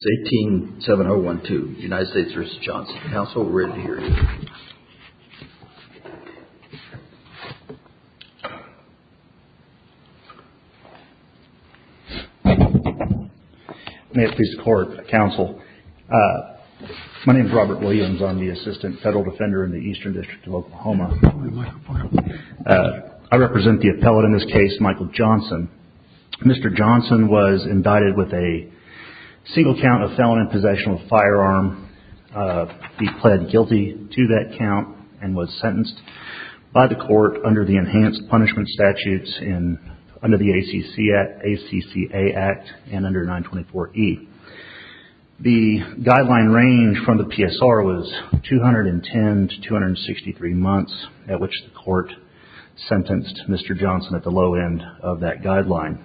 It's 18-7012, United States v. Johnson. Counsel, we're ready to hear you. May it please the court, counsel, my name is Robert Williams. I'm the Assistant Federal Defender in the Eastern District of Oklahoma. I represent the appellate in this case, Michael Johnson. Mr. Johnson was indicted with a single count of felon and possessional firearm. He pled guilty to that count and was sentenced by the court under the enhanced punishment statutes under the ACCA Act and under 924E. The guideline range from the PSR was 210 to 263 months at which the court sentenced Mr. Johnson at the low end of that guideline.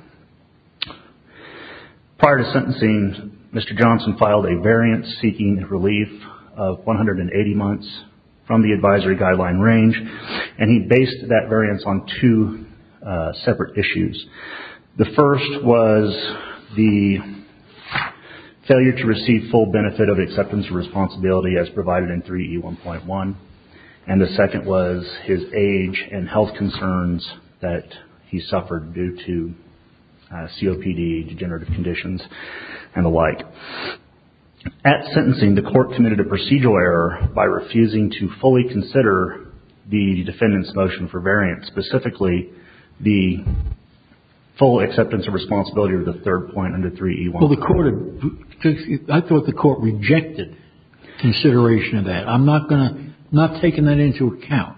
Prior to sentencing, Mr. Johnson filed a variance seeking relief of 180 months from the advisory guideline range and he based that variance on two separate issues. The first was the failure to receive full benefit of acceptance of responsibility as provided in 3E1.1 and the second was his age and health concerns that he suffered due to COPD, degenerative conditions and the like. At sentencing, the court committed a procedural error by refusing to fully consider the defendant's motion for variance, specifically the full acceptance of responsibility of the third point under 3E1.1. Well, I thought the court rejected consideration of that. I'm not going to, not taking that into account.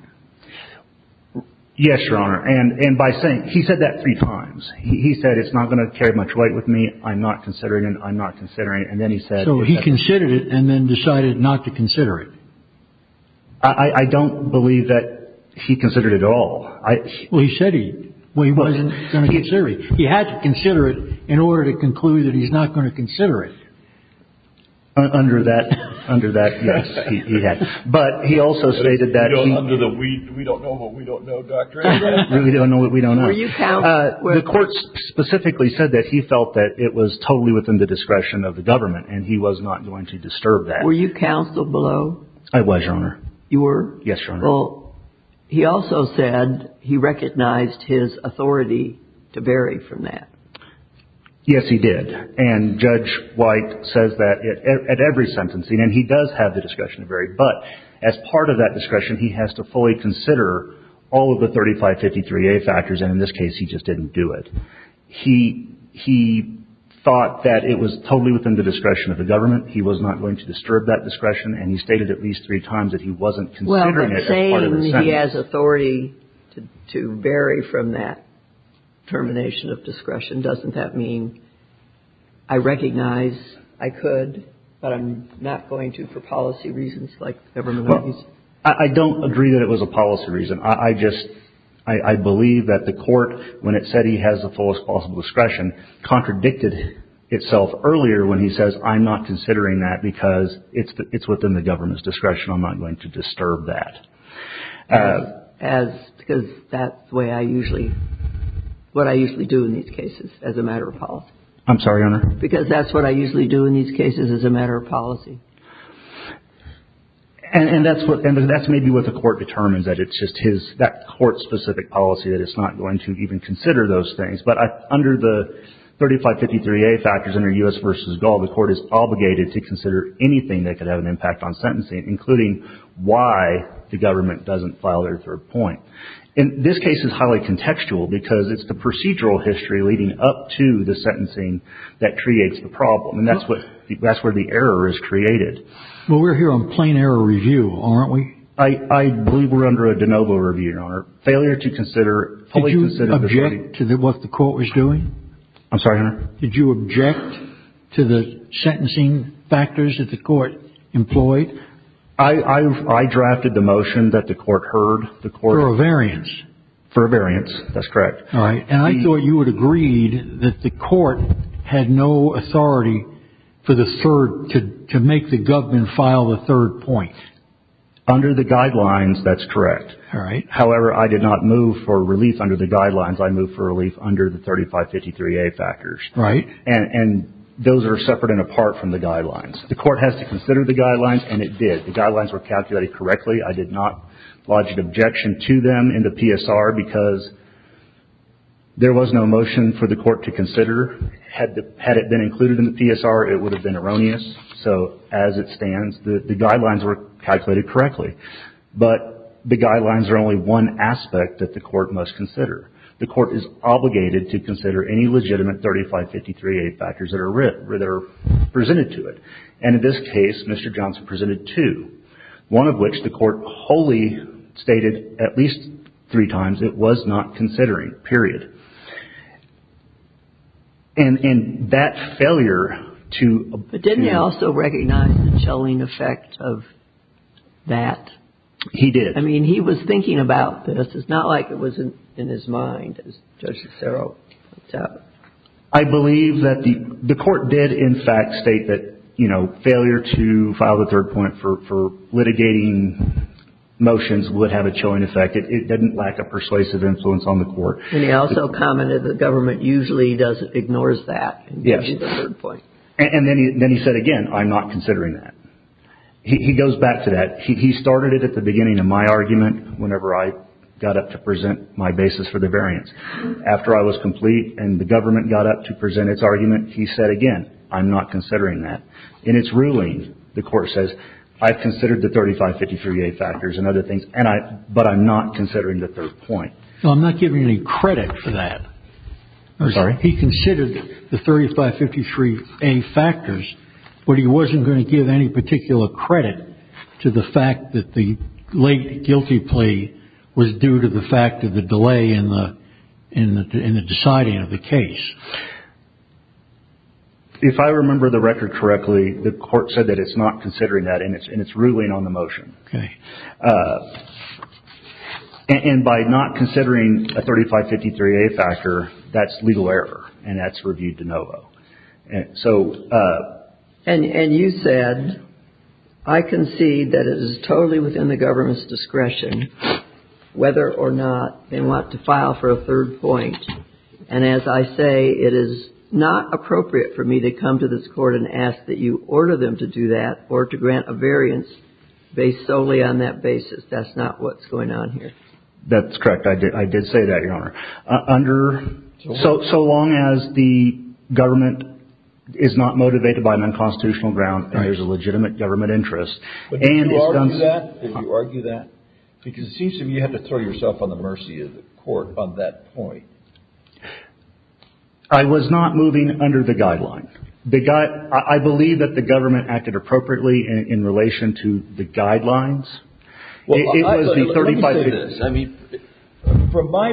Yes, Your Honor. And by saying, he said that three times. He said, it's not going to carry much weight with me. I'm not considering it. I'm not considering it. And then he said- So he considered it and then decided not to consider it. I don't believe that he considered it at all. Well, he said he wasn't going to consider it. He had to consider it in order to conclude that he's not going to consider it. Under that, under that, yes, he had. But he also stated that- Under the, we don't know what we don't know doctrine. We don't know what we don't know. Were you counseled? The court specifically said that he felt that it was totally within the discretion of the government and he was not going to disturb that. Were you counseled below? I was, Your Honor. You were? Yes, Your Honor. Well, he also said he recognized his authority to vary from that. Yes, he did. And Judge White says that at every sentencing. And he does have the discretion to vary. But as part of that discretion, he has to fully consider all of the 3553A factors. And in this case, he just didn't do it. He, he thought that it was totally within the discretion of the government. He was not going to disturb that discretion. And he stated at least three times that he wasn't considering it. I'm saying he has authority to, to vary from that termination of discretion. Doesn't that mean I recognize I could, but I'm not going to for policy reasons like government reasons? I don't agree that it was a policy reason. I just, I believe that the court, when it said he has the fullest possible discretion, contradicted itself earlier when he says, I'm not considering that because it's, it's within the government's discretion. I'm not going to disturb that. As, because that's the way I usually, what I usually do in these cases as a matter of policy. I'm sorry, Your Honor. Because that's what I usually do in these cases as a matter of policy. And, and that's what, and that's maybe what the court determines that it's just his, that court specific policy that it's not going to even consider those things. But I, under the 3553A factors under U.S. v. Gaul, the court is obligated to consider anything that could have an impact on whether or not the government doesn't file their third point. And this case is highly contextual because it's the procedural history leading up to the sentencing that creates the problem. And that's what, that's where the error is created. Well, we're here on plain error review, aren't we? I, I believe we're under a de novo review, Your Honor. Failure to consider, fully consider the. Did you object to what the court was doing? I'm sorry, Your Honor. Did you object to the sentencing factors that the court employed? I, I, I drafted the motion that the court heard the court. For a variance. For a variance. That's correct. All right. And I thought you would agreed that the court had no authority for the third, to, to make the government file the third point. Under the guidelines, that's correct. All right. However, I did not move for relief under the guidelines. I moved for relief under the 3553A factors. Right. And, and those are separate and apart from the guidelines. The court has to consider the guidelines and it did. The guidelines were calculated correctly. I did not lodge an objection to them in the PSR because there was no motion for the court to consider, had the, had it been included in the PSR, it would have been erroneous. So as it stands, the, the guidelines were calculated correctly, but the guidelines are only one aspect that the court must consider. The court is obligated to consider any legitimate 3553A factors that are written, that are presented to it. And in this case, Mr. Johnson presented two, one of which the court wholly stated at least three times, it was not considering, period. And, and that failure to, to. But didn't he also recognize the chilling effect of that? He did. I mean, he was thinking about this. It's not like it wasn't in his mind, as Judge Cicero pointed out. I believe that the, the court did in fact state that, you know, failure to file the third point for, for litigating motions would have a chilling effect. It, it didn't lack a persuasive influence on the court. And he also commented the government usually does, ignores that and gives you the third point. And then he, then he said, again, I'm not considering that. He goes back to that. He, he started it at the beginning of my argument, whenever I got up to present my basis for the variance. After I was complete and the government got up to present its argument, he said, again, I'm not considering that. In its ruling, the court says, I've considered the 3553A factors and other things, and I, but I'm not considering the third point. So I'm not giving any credit for that. I'm sorry. He considered the 3553A factors, but he wasn't going to give any particular credit to the fact that the late guilty plea was due to the fact of the delay in the, in the, in the deciding of the case. If I remember the record correctly, the court said that it's not considering that and it's, and it's ruling on the motion. Okay. And by not considering a 3553A factor, that's legal error and that's reviewed de novo. And so, and, and you said, I concede that it is totally within the government's file for a third point. And as I say, it is not appropriate for me to come to this court and ask that you order them to do that or to grant a variance based solely on that basis. That's not what's going on here. That's correct. I did. I did say that, Your Honor. Under, so, so long as the government is not motivated by an unconstitutional ground and there's a legitimate government interest, and it's done. Did you argue that? Because it seems to me you have to throw yourself on the mercy of the court on that point. I was not moving under the guidelines. The guy, I believe that the government acted appropriately in relation to the guidelines. Well, it was the 3553A. Let me say this. I mean, from my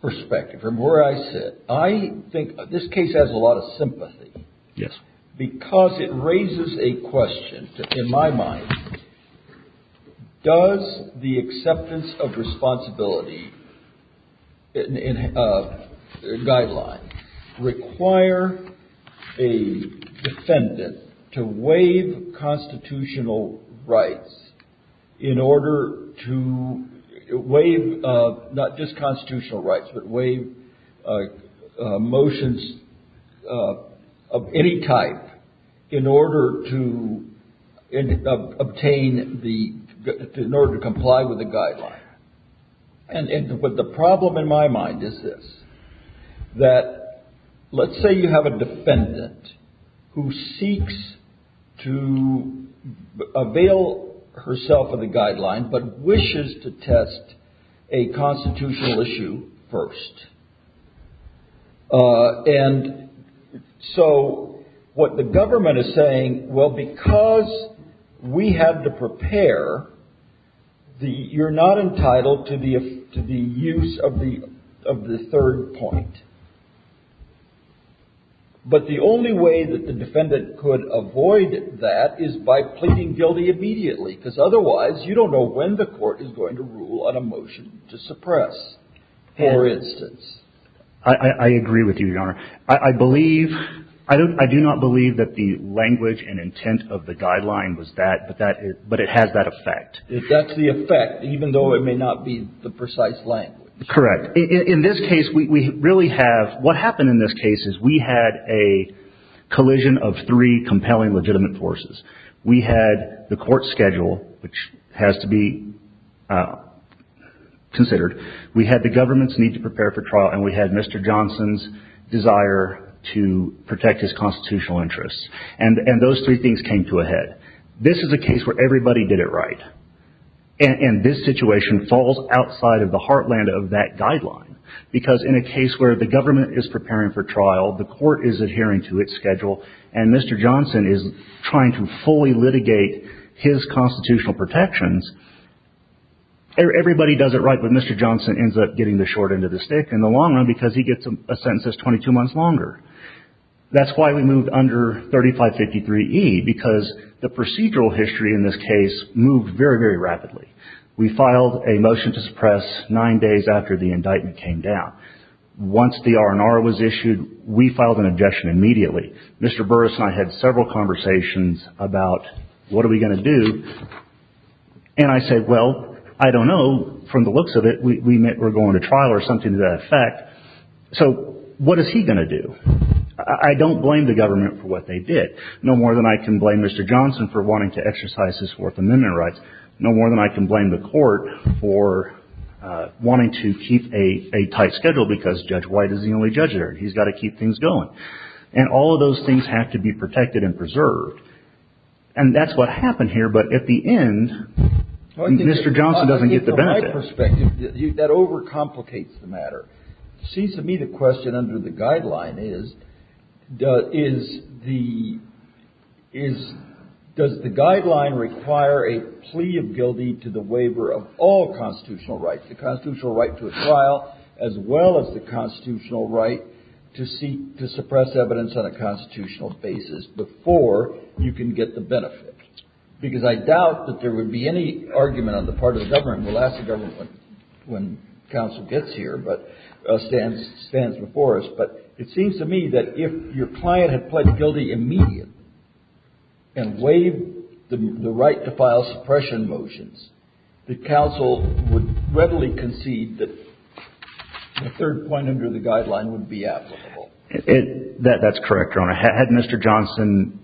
perspective, from where I sit, I think this case has a lot of sympathy. Yes. Because it raises a question in my mind. Does the acceptance of responsibility guideline require a defendant to waive constitutional rights in order to waive, not just constitutional rights, but motions of any type in order to obtain the, in order to comply with the guideline? And, but the problem in my mind is this, that let's say you have a defendant who seeks to avail herself of the guideline, but wishes to test a constitutional issue first. And so what the government is saying, well, because we had to prepare the, you're not entitled to the, to the use of the, of the third point. But the only way that the defendant could avoid that is by pleading guilty immediately, because otherwise you don't know when the court is going to rule on a motion to suppress, for instance. I agree with you, Your Honor. I believe, I don't, I do not believe that the language and intent of the guideline was that, but that it, but it has that effect. If that's the effect, even though it may not be the precise language. Correct. In this case, we really have, what happened in this case is we had a collision of three compelling legitimate forces. We had the court schedule, which has to be considered. We had the government's need to prepare for trial. And we had Mr. Johnson's desire to protect his constitutional interests. And, and those three things came to a head. This is a case where everybody did it right. And this situation falls outside of the heartland of that guideline, because in a case where the government is preparing for trial, the court is adhering to its schedule and Mr. Johnson is trying to fully litigate his constitutional protections. Everybody does it right, but Mr. Johnson ends up getting the short end of the stick in the long run, because he gets a sentence that's 22 months longer. That's why we moved under 3553E, because the procedural history in this case moved very, very rapidly. We filed a motion to suppress nine days after the indictment came down. Once the R&R was issued, we filed an objection immediately. Mr. Burris and I had several conversations about what are we going to do? And I said, well, I don't know, from the looks of it, we, we met, we're going to trial or something to that effect. So what is he going to do? I don't blame the government for what they did. No more than I can blame Mr. Johnson for wanting to exercise his Fourth Amendment rights. No more than I can blame the court for wanting to keep a, a tight schedule because Judge White is the only judge there and he's got to keep things going. And all of those things have to be protected and preserved. And that's what happened here. But at the end, Mr. Johnson doesn't get the benefit. From my perspective, that overcomplicates the matter. It seems to me the question under the guideline is, is the, is, does the guideline require a plea of guilty to the waiver of all constitutional rights, the constitutional right to a trial, as well as the constitutional right to seek, to suppress evidence on a constitutional basis before you can get the benefit, because I doubt that there would be any argument on the part of the government. We'll ask the government when, when counsel gets here, but, stands, stands before us. But it seems to me that if your client had pled guilty immediately and waived the, the right to file suppression motions, the counsel would readily concede that the third point under the guideline would be applicable. That's correct, Your Honor. Had Mr. Johnson,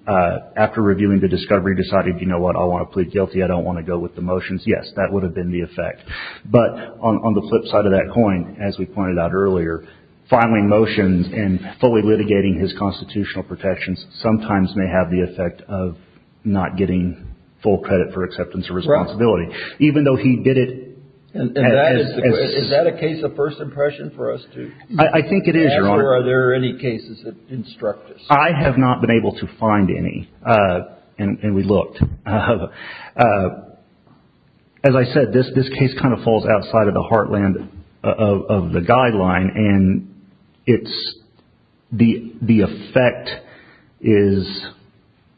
after reviewing the discovery, decided, you know what, I want to plead guilty. I don't want to go with the motions. Yes, that would have been the effect. But on the flip side of that coin, as we pointed out earlier, filing motions and fully litigating his constitutional protections sometimes may have the effect of not getting full credit for acceptance of responsibility. Even though he did it. And that is, is that a case of first impression for us too? I think it is, Your Honor. After, are there any cases that instruct us? I have not been able to find any. And, and we looked. As I said, this, this case kind of falls outside of the heartland of, of the guideline and it's, the, the effect is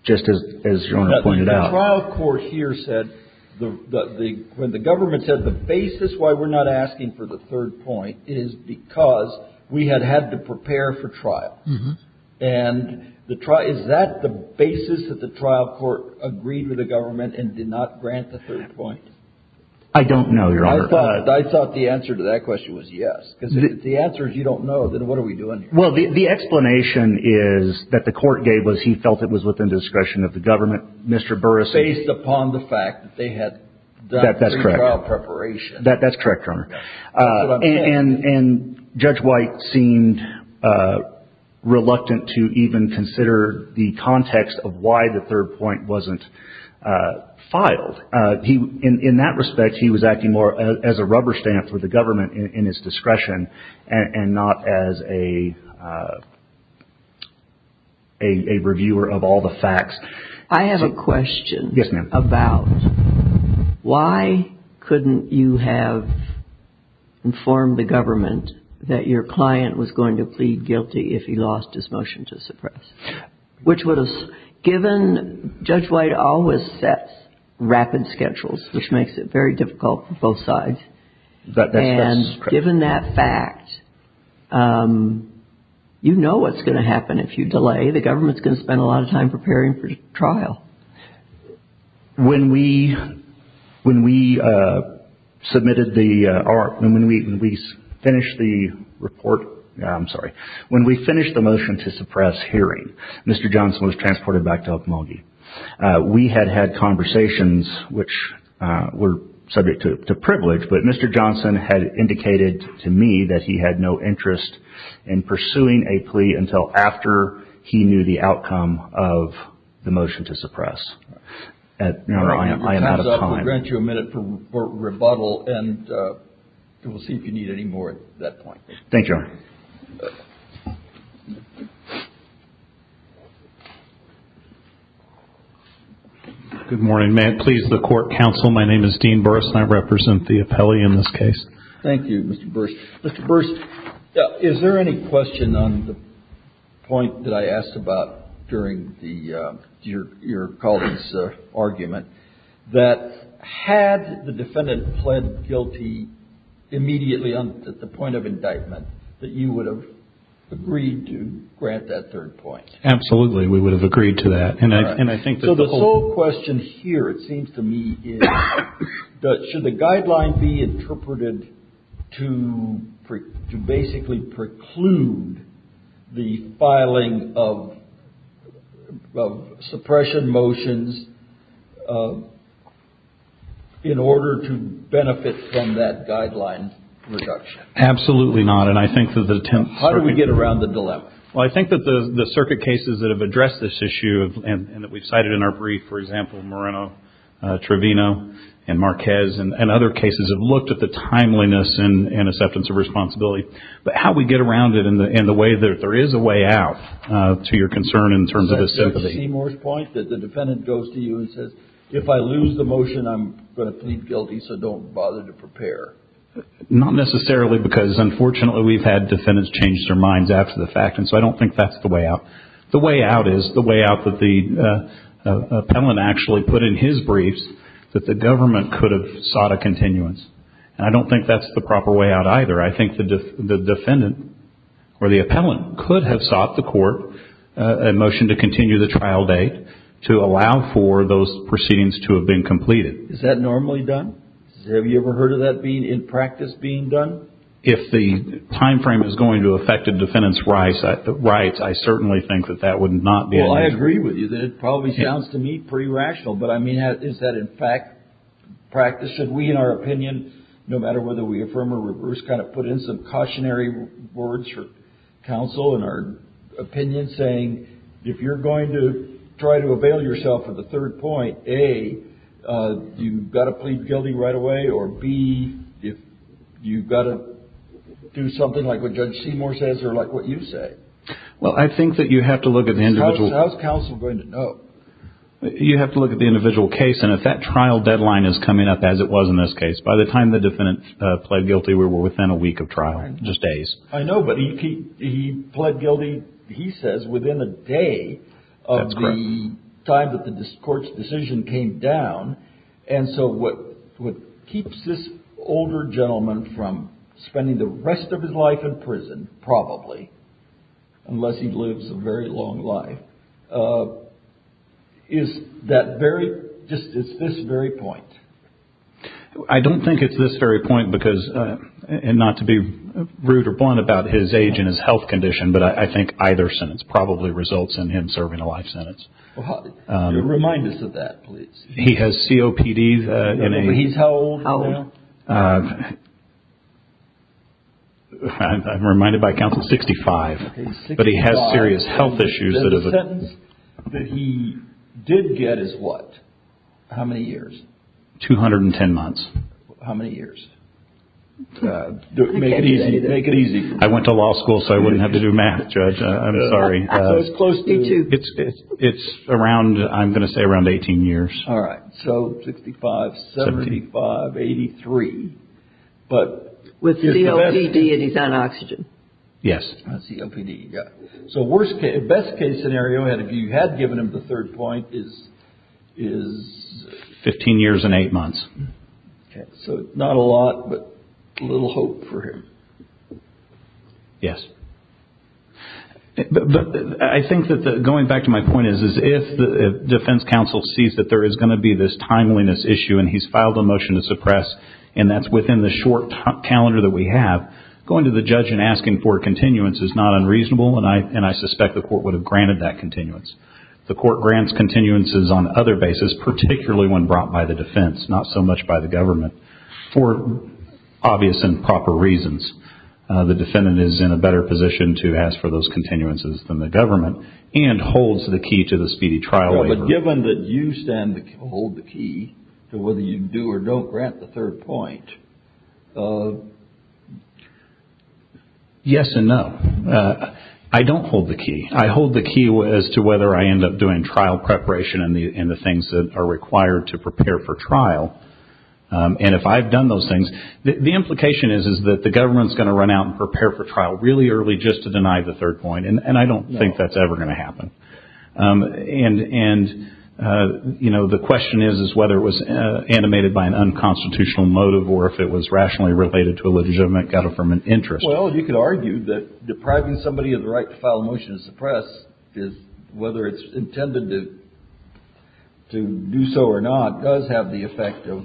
just as, as Your Honor pointed out. The trial court here said the, the, the, when the government said the basis why we're not asking for the third point is because we had had to prepare for trial. And the trial, is that the basis that the trial court agreed with the government and did not grant the third point? I don't know, Your Honor. I thought, I thought the answer to that question was yes, because if the answer is you don't know, then what are we doing here? Well, the, the explanation is that the court gave was he felt it was within discretion of the government, Mr. Burris. Based upon the fact that they had done pre-trial preparation. That, that's correct, Your Honor. And, and Judge White seemed reluctant to even consider the context of why the third point wasn't filed. He, in that respect, he was acting more as a rubber stamp for the government in his discretion and not as a, a reviewer of all the facts. I have a question about why couldn't you have informed the government that your client was going to plead guilty if he lost his motion to suppress? Which would have, given Judge White always sets rapid schedules, which makes it very difficult for both sides. That, that's correct. And given that fact, you know what's going to happen if you delay. The government's going to spend a lot of time preparing for trial. When we, when we submitted the, when we finished the report, I'm sorry. When we finished the motion to suppress hearing, Mr. Johnson was transported back to Okmulgee. We had had conversations which were subject to privilege, but Mr. Johnson had indicated to me that he had no interest in pursuing a plea until after he knew the outcome of the motion to suppress. At, you know, I am, I am out of time. We'll grant you a minute for rebuttal and we'll see if you need any more at that point. Thank you. Good morning. May it please the court counsel. My name is Dean Burris and I represent the appellee in this case. Thank you, Mr. Burris. Mr. Burris, is there any question on the point that I asked about during the, your, your colleague's argument that had the defendant pled guilty immediately on, at the point of indictment, that you would have agreed to grant that third point? Absolutely. We would have agreed to that. And I, and I think that the whole question here, it seems to me is that should the guideline be interpreted to pre, to basically preclude the filing of, of suppression motions in order to benefit from that guideline reduction? Absolutely not. And I think that the attempt. How do we get around the dilemma? Well, I think that the, the circuit cases that have addressed this issue and that we've cited in our brief, for example, Moreno, Trevino and Marquez and other cases have looked at the timeliness and, and acceptance of responsibility, but how we get around it in the, in the way that there is a way out to your concern in terms of the sympathy. Is that Seymour's point that the defendant goes to you and says, if I lose the motion, I'm going to plead guilty. So don't bother to prepare. Not necessarily because unfortunately we've had defendants change their minds after the fact. And so I don't think that's the way out. The way out is the way out that the appellant actually put in his briefs that the government could have sought a continuance. And I don't think that's the proper way out either. I think the defendant or the appellant could have sought the court a motion to continue the trial date to allow for those proceedings to have been completed. Is that normally done? Have you ever heard of that being in practice being done? If the timeframe is going to affect a defendant's rights, I certainly think that that would not be a nice way to do it. Well, I agree with you that it probably sounds to me pretty rational, but I mean, is that in fact practice? Should we, in our opinion, no matter whether we affirm or reverse, kind of put in some cautionary words for counsel in our opinion saying, if you're going to try to avail yourself of the third point, A, you've got to plead guilty right away, or B, if you've got to do something like what Judge Seymour says or like what you say. Well, I think that you have to look at the individual. How's counsel going to know? You have to look at the individual case. And if that trial deadline is coming up as it was in this case, by the time the defendant pled guilty, we were within a week of trial, just days. I know, but he pled guilty, he says, within a day of the time that the court's decision came down. And so what keeps this older gentleman from spending the rest of his life in jail, unless he lives a very long life, is that very, just, it's this very point. I don't think it's this very point because, and not to be rude or blunt about his age and his health condition, but I think either sentence probably results in him serving a life sentence. Well, remind us of that, please. He has COPD in a- He's how old now? I'm reminded by counsel, 65, but he has serious health issues that have- The sentence that he did get is what? How many years? 210 months. How many years? Make it easy, make it easy. I went to law school, so I wouldn't have to do math, Judge. I'm sorry. So it's close to- It's around, I'm going to say around 18 years. All right. So 65, 75, 83, but- With COPD and he's on oxygen. Yes. On COPD, yeah. So worst case, best case scenario, and if you had given him the third point is- Is 15 years and eight months. Okay. So not a lot, but a little hope for him. Yes. I think that the, going back to my point is, is if the defense counsel sees that there is going to be this timeliness issue, and he's filed a motion to suppress, and that's within the short calendar that we have, going to the judge and asking for continuance is not unreasonable, and I suspect the court would have granted that continuance. The court grants continuances on other basis, particularly when brought by the defense, not so much by the government, for obvious and proper reasons. The defendant is in a better position to ask for those continuances than the government, and holds the key to the speedy trial waiver. Given that you stand to hold the key to whether you do or don't grant the third point, yes and no. I don't hold the key. I hold the key as to whether I end up doing trial preparation and the things that are required to prepare for trial. And if I've done those things, the implication is, is that the government's going to run out and prepare for trial really early just to deny the third point, and I don't think that's ever going to happen. And, you know, the question is, is whether it was animated by an unconstitutional motive or if it was rationally related to a legitimate government interest. Well, you could argue that depriving somebody of the right to file a motion to suppress, whether it's intended to do so or not, does have the effect of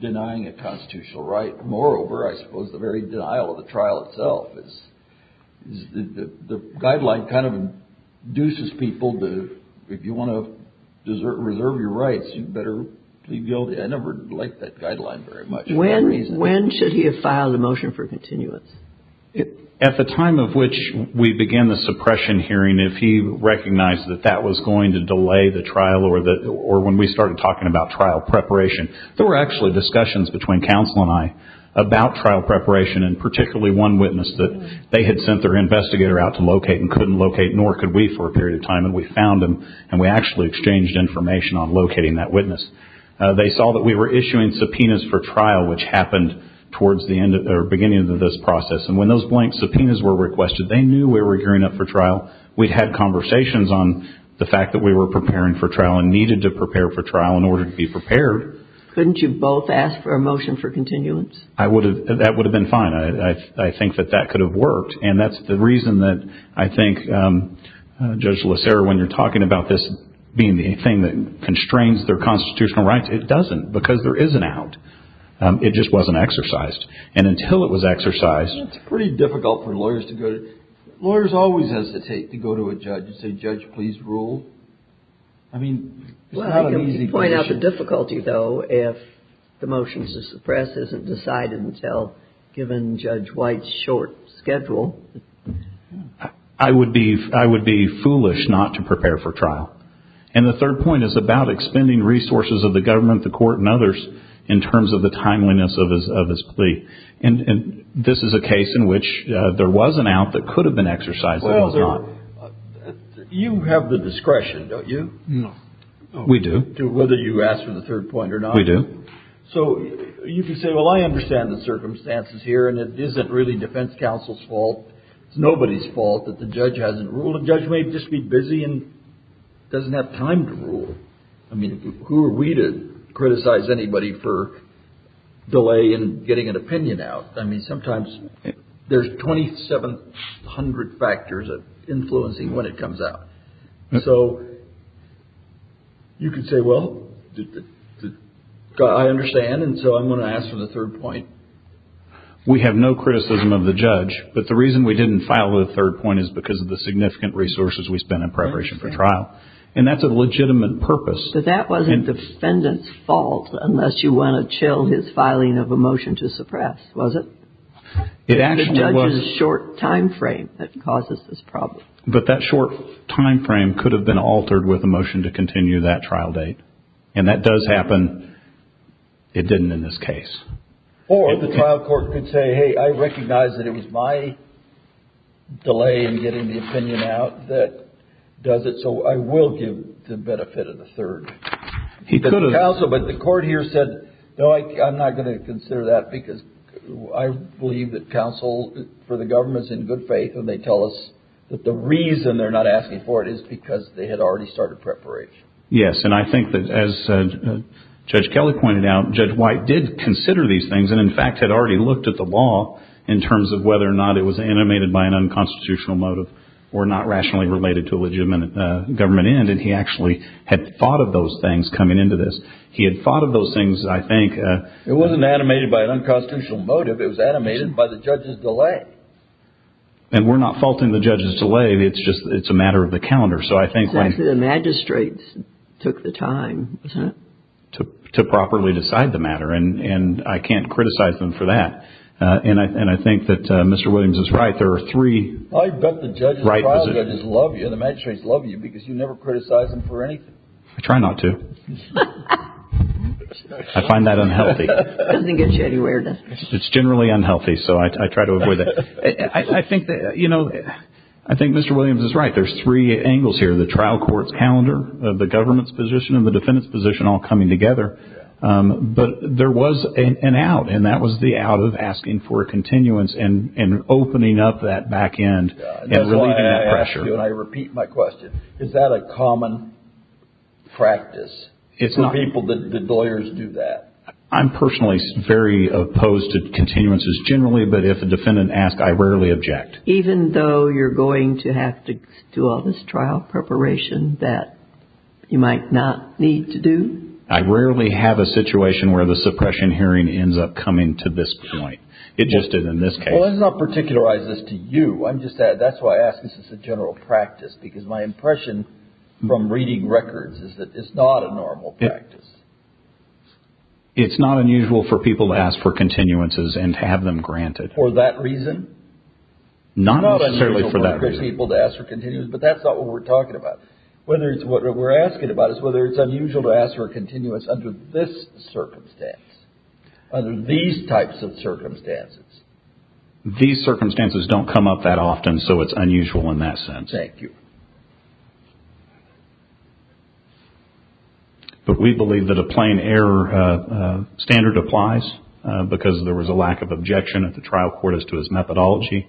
denying a constitutional right. Moreover, I suppose the very denial of the trial itself, the guideline kind of induces people to, if you want to reserve your rights, you'd better plead guilty. I never liked that guideline very much for that reason. When should he have filed a motion for continuance? At the time of which we began the suppression hearing, if he recognized that that was going to delay the trial or when we started talking about trial preparation, there were actually discussions between counsel and I about trial preparation and particularly one witness that they had sent their witness to locate, nor could we for a period of time. And we found him and we actually exchanged information on locating that witness. They saw that we were issuing subpoenas for trial, which happened towards the end or beginning of this process. And when those blank subpoenas were requested, they knew we were gearing up for trial. We'd had conversations on the fact that we were preparing for trial and needed to prepare for trial in order to be prepared. Couldn't you both ask for a motion for continuance? I would have. That would have been fine. I think that that could have worked. And that's the reason that I think Judge Lacerra, when you're talking about this being the thing that constrains their constitutional rights, it doesn't because there is an out. It just wasn't exercised. And until it was exercised... It's pretty difficult for lawyers to go to... Lawyers always hesitate to go to a judge and say, judge, please rule. I mean, it's not an easy position. You point out the difficulty though, if the motions to suppress isn't decided until given Judge White's short schedule. I would be foolish not to prepare for trial. And the third point is about expending resources of the government, the court and others in terms of the timeliness of his plea. And this is a case in which there was an out that could have been exercised. You have the discretion, don't you? No. We do. Whether you ask for the third point or not. We do. So you can say, well, I understand the circumstances here and it isn't really defense counsel's fault. It's nobody's fault that the judge hasn't ruled. The judge may just be busy and doesn't have time to rule. I mean, who are we to criticize anybody for delay in getting an opinion out? I mean, sometimes there's 2,700 factors influencing when it comes out. So you could say, well, I understand. And so I'm going to ask for the third point. We have no criticism of the judge, but the reason we didn't file the third point is because of the significant resources we spent in preparation for trial. And that's a legitimate purpose. But that wasn't defendant's fault, unless you want to chill his filing of a motion to suppress, was it? It actually was. The judge's short time frame that causes this problem. But that short time frame could have been altered with a motion to continue that trial date. And that does happen. It didn't in this case. Or the trial court could say, hey, I recognize that it was my delay in getting the opinion out that does it. So I will give the benefit of the third. He could have. But the court here said, no, I'm not going to consider that because I believe that counsel for the government's in good faith. And they tell us that the reason they're not asking for it is because they had already started preparation. Yes. And I think that as Judge Kelly pointed out, Judge White did consider these things and in fact, had already looked at the law in terms of whether or not it was animated by an unconstitutional motive or not rationally related to a legitimate government end. And he actually had thought of those things coming into this. He had thought of those things. I think it wasn't animated by an unconstitutional motive. It was animated by the judge's delay. And we're not faulting the judge's delay. It's just it's a matter of the calendar. So I think the magistrates took the time to properly decide the matter. And I can't criticize them for that. And I think that Mr. Williams is right. There are three. I bet the judges love you. The magistrates love you because you never criticize them for anything. I try not to. I find that unhealthy. It doesn't get you anywhere. It's generally unhealthy. So I try to avoid that. I think that, you know, I think Mr. Williams is right. There's three angles here. The trial court's calendar of the government's position and the defendant's position all coming together. But there was an out. And that was the out of asking for a continuance and opening up that back end and relieving that pressure. And I repeat my question. Is that a common practice for people that the lawyers do that? I'm personally very opposed to continuances generally. But if a defendant asks, I rarely object. Even though you're going to have to do all this trial preparation that you might not need to do? I rarely have a situation where the suppression hearing ends up coming to this point. It just did in this case. Well, let's not particularize this to you. I'm just that's why I ask. This is a general practice, because my impression from reading records is that it's not a normal practice. It's not unusual for people to ask for continuances and have them granted. For that reason? Not necessarily for that reason. It's not unusual for people to ask for continuances, but that's not what we're talking about. What we're asking about is whether it's unusual to ask for a continuance under this circumstance, under these types of circumstances. These circumstances don't come up that often. So it's unusual in that sense. Thank you. But we believe that a plain error standard applies because there was a lack of objection at the trial court as to his methodology.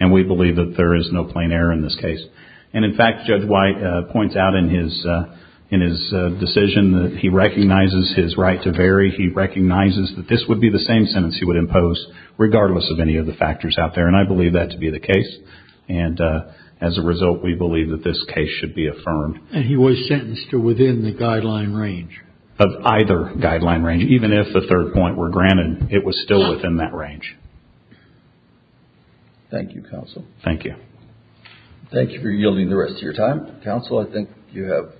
And we believe that there is no plain error in this case. And in fact, Judge White points out in his decision that he recognizes his right to vary. He recognizes that this would be the same sentence he would impose regardless of any of the factors out there. And I believe that to be the case. And as a result, we believe that this case should be affirmed. And he was sentenced to within the guideline range. Of either guideline range, even if the third point were granted, it was still within that range. Thank you, counsel. Thank you. Thank you for yielding the rest of your time. Counsel, I think you have.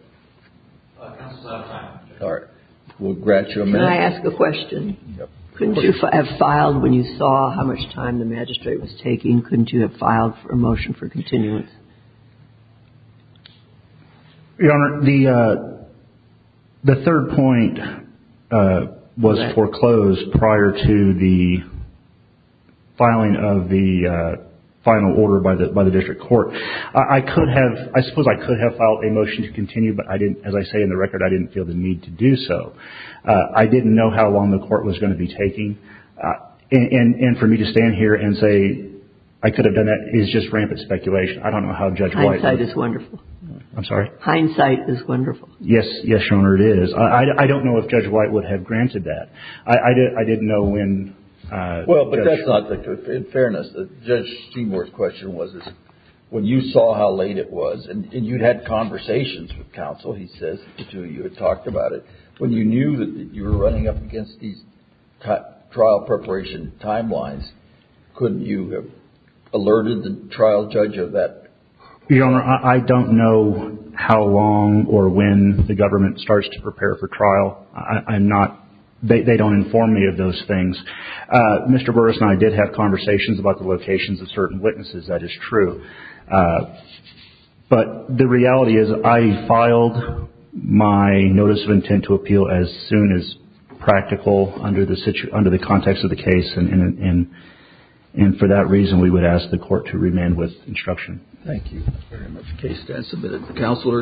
We'll grant you a minute. Can I ask a question? Couldn't you have filed when you saw how much time the magistrate was taking? Couldn't you have filed for a motion for continuance? Your Honor, the third point was foreclosed prior to the filing of the final order by the district court. I could have, I suppose I could have filed a motion to continue, but I didn't, as I say in the record, I didn't feel the need to do so. I didn't know how long the court was going to be taking. And for me to stand here and say, I could have done that is just rampant speculation. I don't know how Judge White would have... Hindsight is wonderful. I'm sorry? Hindsight is wonderful. Yes, yes, Your Honor, it is. I don't know if Judge White would have granted that. I didn't know when... Well, but that's not the, in fairness, Judge Seymour's question was, when you saw how late it was, and you'd had conversations with counsel, he says, the two of you had trial preparation timelines. Couldn't you have alerted the trial judge of that? Your Honor, I don't know how long or when the government starts to prepare for trial. I'm not, they don't inform me of those things. Mr. Burris and I did have conversations about the locations of certain witnesses. That is true. But the reality is I filed my notice of intent to appeal as soon as practical under the context of the case. And for that reason, we would ask the court to remain with instruction. Thank you very much. The case has been submitted. Counselor.